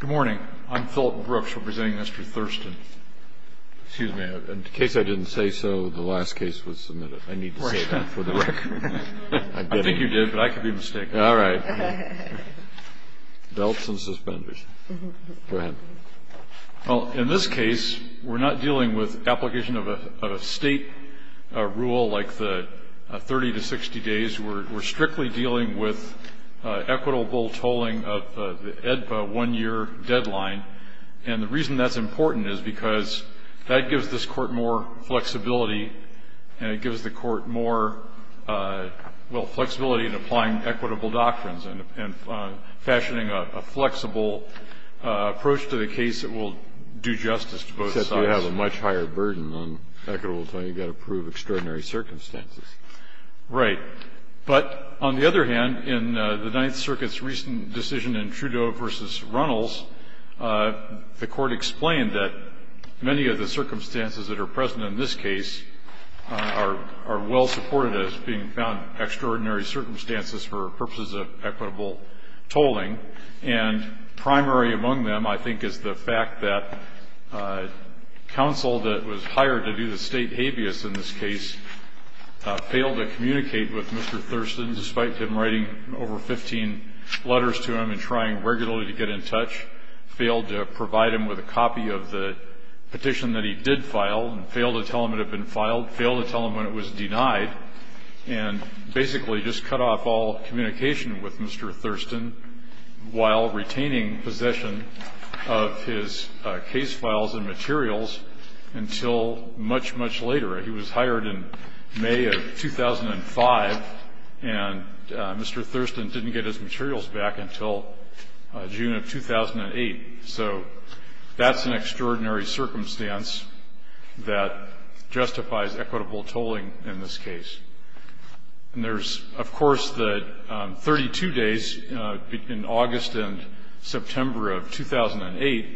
Good morning. I'm Philip Brooks representing Mr. Thurston. In case I didn't say so, the last case was submitted. I need to say that for the record. I think you did, but I could be mistaken. All right. Belts and suspenders. Go ahead. In this case, we're not dealing with application of a state rule like the 30 to 60 days. We're strictly dealing with equitable tolling of the EDPA one-year deadline. And the reason that's important is because that gives this court more flexibility, and it gives the court more flexibility in applying equitable doctrines and fashioning a flexible approach to the case that will do justice to both sides. Except you have a much higher burden on equitable tolling. You've got to prove extraordinary circumstances. Right. But on the other hand, in the Ninth Circuit's recent decision in Trudeau v. Runnels, the court explained that many of the circumstances that are present in this case are well supported as being found extraordinary circumstances for purposes of equitable tolling. And primary among them, I think, is the fact that counsel that was hired to do the state habeas in this case failed to communicate with Mr. Thurston despite him writing over 15 letters to him and trying regularly to get in touch, failed to provide him with a copy of the petition that he did file, and failed to tell him it had been filed, failed to tell him when it was denied, and basically just cut off all communication with Mr. Thurston while retaining possession of his case files and materials until much, much later. He was hired in May of 2005, and Mr. Thurston didn't get his materials back until June of 2008. So that's an extraordinary circumstance that justifies equitable tolling in this case. And there's, of course, the 32 days in August and September of 2008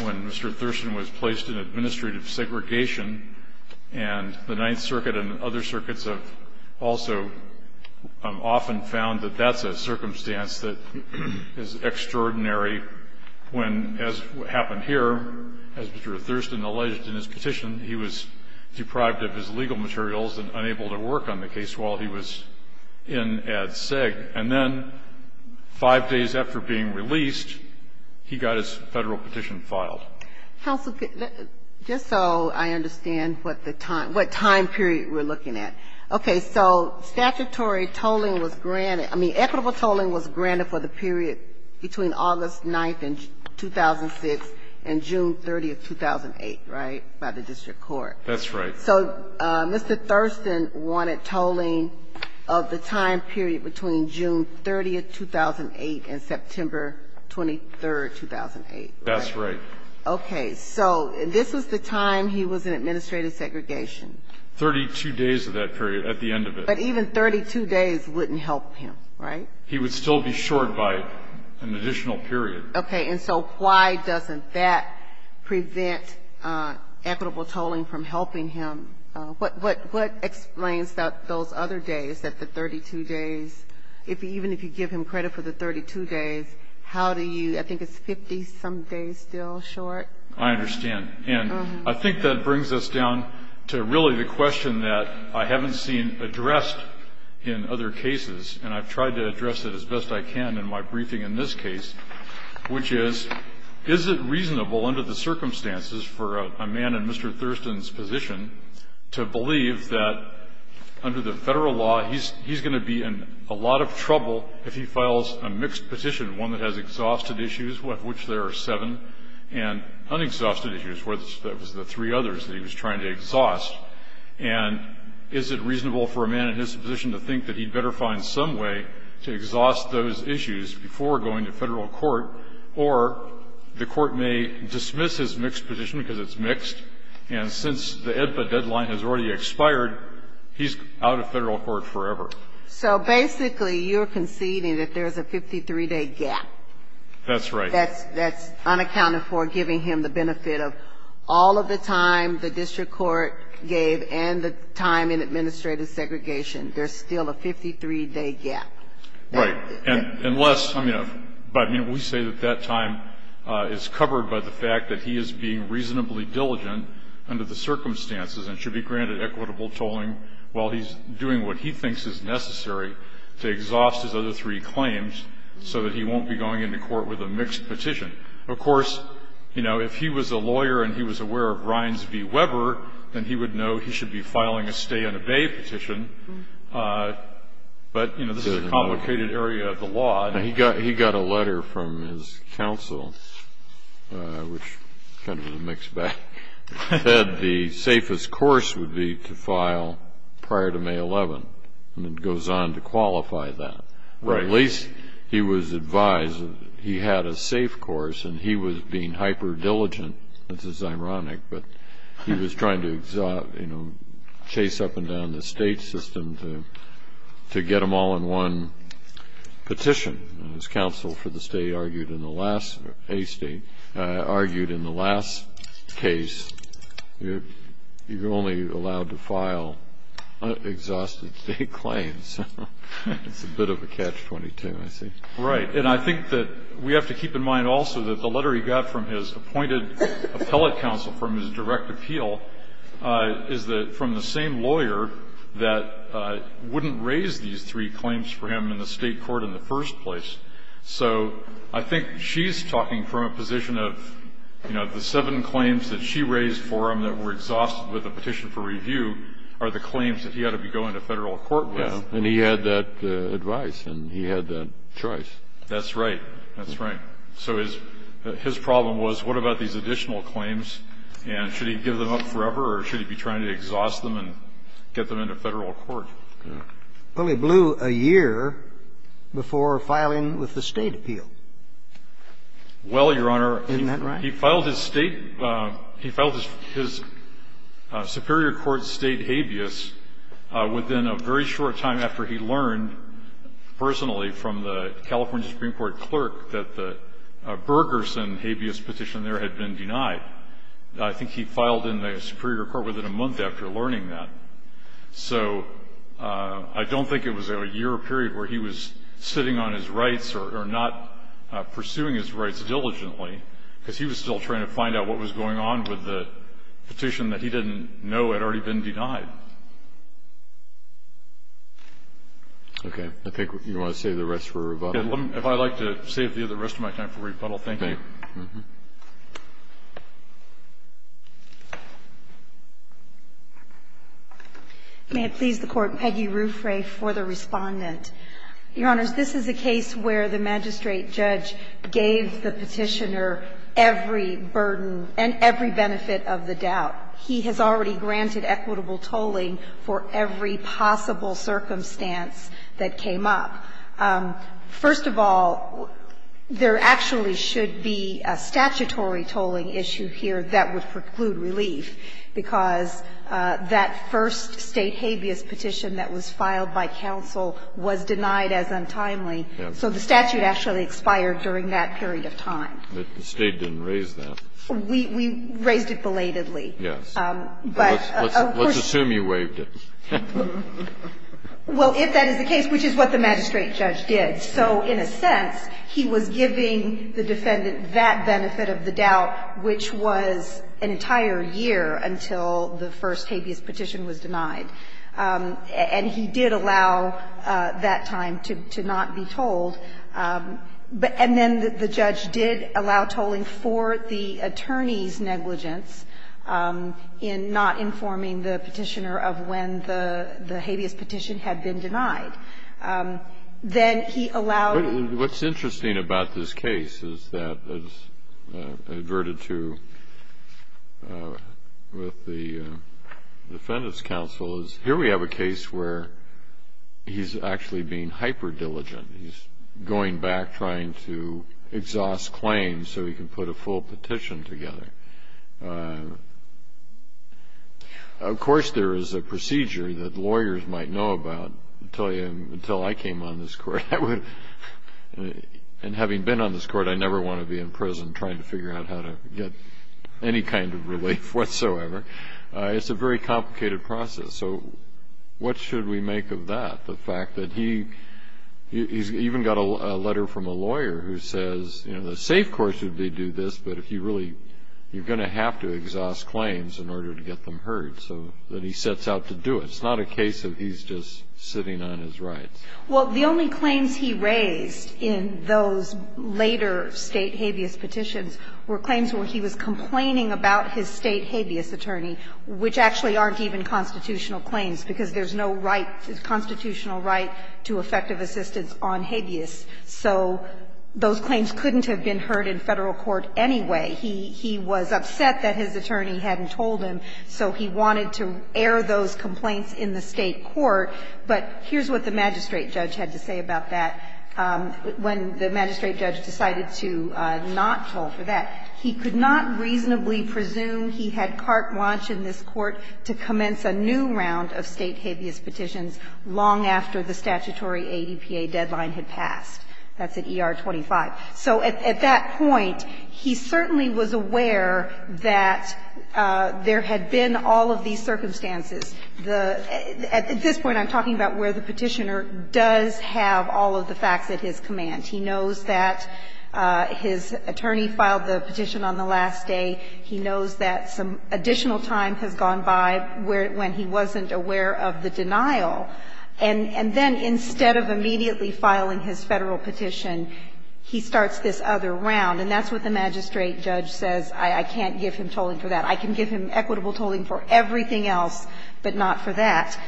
when Mr. Thurston was placed in administrative segregation. And the Ninth Circuit and other circuits have also often found that that's a circumstance that is extraordinary when, as happened here, as Mr. Thurston alleged in his petition, he was deprived of his legal materials and unable to work on the case while he was in Ad Seg. And then five days after being released, he got his Federal petition filed. Ginsburg. Just so I understand what the time, what time period we're looking at. Okay. So statutory tolling was granted, I mean, equitable tolling was granted for the period between August 9th and 2006 and June 30th, 2008, right, by the district court. That's right. So Mr. Thurston wanted tolling of the time period between June 30th, 2008 and September 23rd, 2008. That's right. Okay. So this was the time he was in administrative segregation. Thirty-two days of that period at the end of it. But even 32 days wouldn't help him, right? He would still be short by an additional period. Okay. And so why doesn't that prevent equitable tolling from helping him? What explains those other days, that the 32 days, even if you give him credit for the 32 days, how do you, I think it's 50-some days still short? I understand. And I think that brings us down to really the question that I haven't seen addressed in other cases, and I've tried to address it as best I can in my briefing in this case, which is, is it reasonable under the circumstances for a man in Mr. Thurston's position to believe that under the federal law he's going to be in a lot of trouble if he files a mixed petition, one that has exhausted issues, of which there are seven, and unexhausted issues, that was the three others that he was trying to exhaust, and is it reasonable for a man in his position to think that he'd better find some way to exhaust those issues before going to federal court, or the court may dismiss his mixed petition because it's mixed, and since the AEDPA deadline has already expired, he's out of federal court forever. So basically you're conceding that there's a 53-day gap. That's right. That's unaccounted for, giving him the benefit of all of the time the district court gave and the time in administrative segregation. There's still a 53-day gap. Right. Unless, I mean, we say that that time is covered by the fact that he is being reasonably diligent under the circumstances and should be granted equitable tolling while he's doing what he thinks is necessary to exhaust his other three claims so that he won't be going into court with a mixed petition. Of course, you know, if he was a lawyer and he was aware of Ryans v. Weber, then he would know he should be filing a stay-and-obey petition, but, you know, this is a complicated area of the law. He got a letter from his counsel, which kind of was a mixed bag, that the safest course would be to file prior to May 11th, and it goes on to qualify that. Right. At least he was advised that he had a safe course, and he was being hyper-diligent, which is ironic, but he was trying to, you know, chase up and down the state system to get them all in one petition. His counsel for the state argued in the last case you're only allowed to file exhaustive state claims. It's a bit of a catch-22, I see. Right, and I think that we have to keep in mind also that the letter he got from his appointed appellate counsel from his direct appeal is from the same lawyer that wouldn't raise these three claims for him in the state court in the first place. So I think she's talking from a position of, you know, the seven claims that she raised for him that were exhausted with a petition for review are the claims that he ought to be going to federal court with. Yeah, and he had that advice, and he had that choice. That's right. That's right. So his problem was what about these additional claims, and should he give them up forever, or should he be trying to exhaust them and get them into federal court? Well, he blew a year before filing with the state appeal. Well, Your Honor, he filed his state – he filed his superior court state habeas within a very short time after he learned personally from the California Supreme Court clerk that the Bergerson habeas petition there had been denied. I think he filed in the superior court within a month after learning that. So I don't think it was a year period where he was sitting on his rights or not pursuing his rights diligently, because he was still trying to find out what was going on with the petition that he didn't know had already been denied. Okay. I think you want to save the rest for rebuttal? If I'd like to save the rest of my time for rebuttal, thank you. Okay. May it please the Court. Peggy Rufre for the Respondent. Your Honors, this is a case where the magistrate judge gave the petitioner every burden and every benefit of the doubt. He has already granted equitable tolling for every possible circumstance that came up. First of all, there actually should be a statutory tolling issue here that would preclude relief, because that first state habeas petition that was filed by counsel was denied as untimely. So the statute actually expired during that period of time. But the State didn't raise that. We raised it belatedly. Yes. Let's assume you waived it. Well, if that is the case, which is what the magistrate judge did. So in a sense, he was giving the defendant that benefit of the doubt, which was an entire year until the first habeas petition was denied. And he did allow that time to not be tolled. And then the judge did allow tolling for the attorney's negligence in not informing the petitioner of when the habeas petition had been denied. Then he allowed toll. What's interesting about this case is that, as adverted to with the Defendant's Counsel, is here we have a case where he's actually being hyperdiligent. He's going back, trying to exhaust claims so he can put a full petition together. Of course, there is a procedure that lawyers might know about until I came on this court. And having been on this court, I never want to be in prison trying to figure out how to get any kind of relief whatsoever. It's a very complicated process. So what should we make of that, the fact that he's even got a letter from a lawyer who says, you know, the safe course would be to do this, but if you really you're going to have to exhaust claims in order to get them heard, so that he sets out to do it. It's not a case of he's just sitting on his rights. Well, the only claims he raised in those later State habeas petitions were claims where he was complaining about his State habeas attorney, which actually aren't even constitutional claims, because there's no right, constitutional right to effective assistance on habeas. So those claims couldn't have been heard in Federal court anyway. He was upset that his attorney hadn't told him, so he wanted to air those complaints in the State court. But here's what the magistrate judge had to say about that when the magistrate judge decided to not toll for that. He could not reasonably presume he had carte blanche in this Court to commence a new round of State habeas petitions long after the statutory ADPA deadline had passed. That's at ER 25. So at that point, he certainly was aware that there had been all of these circumstances. At this point, I'm talking about where the Petitioner does have all of the facts at his command. He knows that his attorney filed the petition on the last day. He knows that some additional time has gone by when he wasn't aware of the denial. And then instead of immediately filing his Federal petition, he starts this other round, and that's what the magistrate judge says, I can't give him tolling for that. I can give him equitable tolling for everything else, but not for that.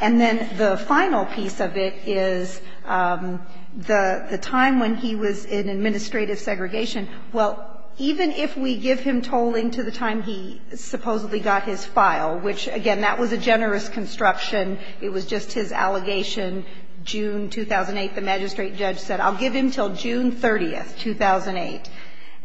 And then the final piece of it is the time when he was in administrative segregation. Well, even if we give him tolling to the time he supposedly got his file, which, again, that was a generous construction. It was just his allegation, June 2008, the magistrate judge said, I'll give him until June 30, 2008.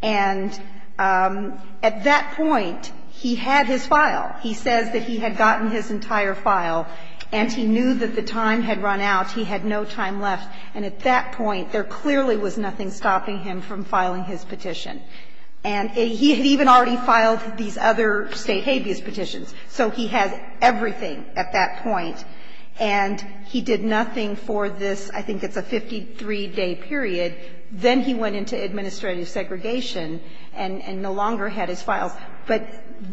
And at that point, he had his file. He says that he had gotten his entire file, and he knew that the time had run out. He had no time left. And at that point, there clearly was nothing stopping him from filing his petition. And he had even already filed these other State habeas petitions. So he had everything at that point. And he did nothing for this, I think it's a 53-day period. Then he went into administrative segregation and no longer had his files. But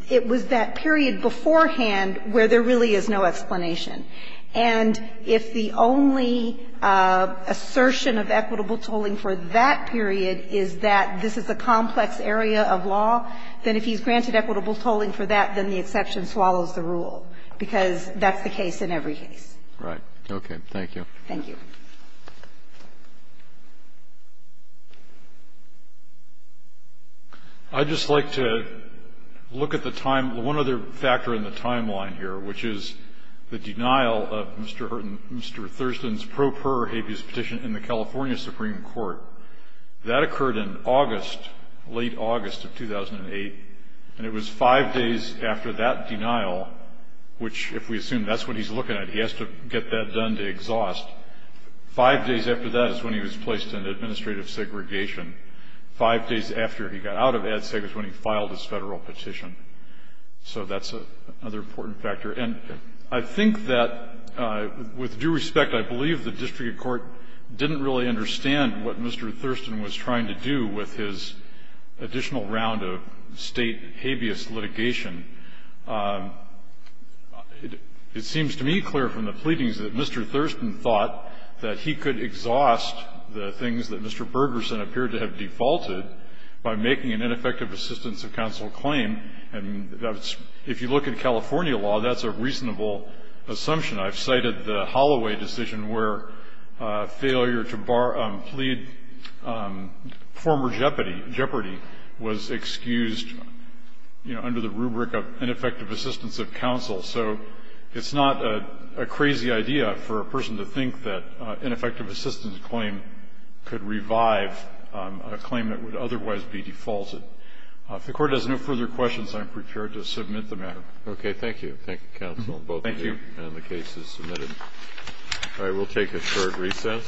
it was that period beforehand where there really is no explanation. And if the only assertion of equitable tolling for that period is that this is a complex area of law, then if he's granted equitable tolling for that, then the exception swallows the rule, because that's the case in every case. Right. Okay. Thank you. Thank you. I'd just like to look at the time. One other factor in the timeline here, which is the denial of Mr. Thurston's pro per habeas petition in the California Supreme Court. That occurred in August, late August of 2008. And it was five days after that denial, which if we assume that's what he's looking at, he has to get that done to exhaust. Five days after that is when he was placed in administrative segregation. Five days after he got out of ADSEG is when he filed his Federal petition. So that's another important factor. And I think that, with due respect, I believe the district court didn't really understand what Mr. Thurston was trying to do with his additional round of State habeas litigation. It seems to me clear from the pleadings that Mr. Thurston thought that he could exhaust the things that Mr. Bergerson appeared to have defaulted by making an ineffective assistance of counsel claim. And if you look at California law, that's a reasonable assumption. I've cited the Holloway decision where failure to plead former jeopardy was excused under the rubric of ineffective assistance of counsel. So it's not a crazy idea for a person to think that ineffective assistance claim could revive a claim that would otherwise be defaulted. If the Court has no further questions, I'm prepared to submit the matter. Okay. Thank you. Thank you, counsel. Thank you. And the case is submitted. All right. We'll take a short recess.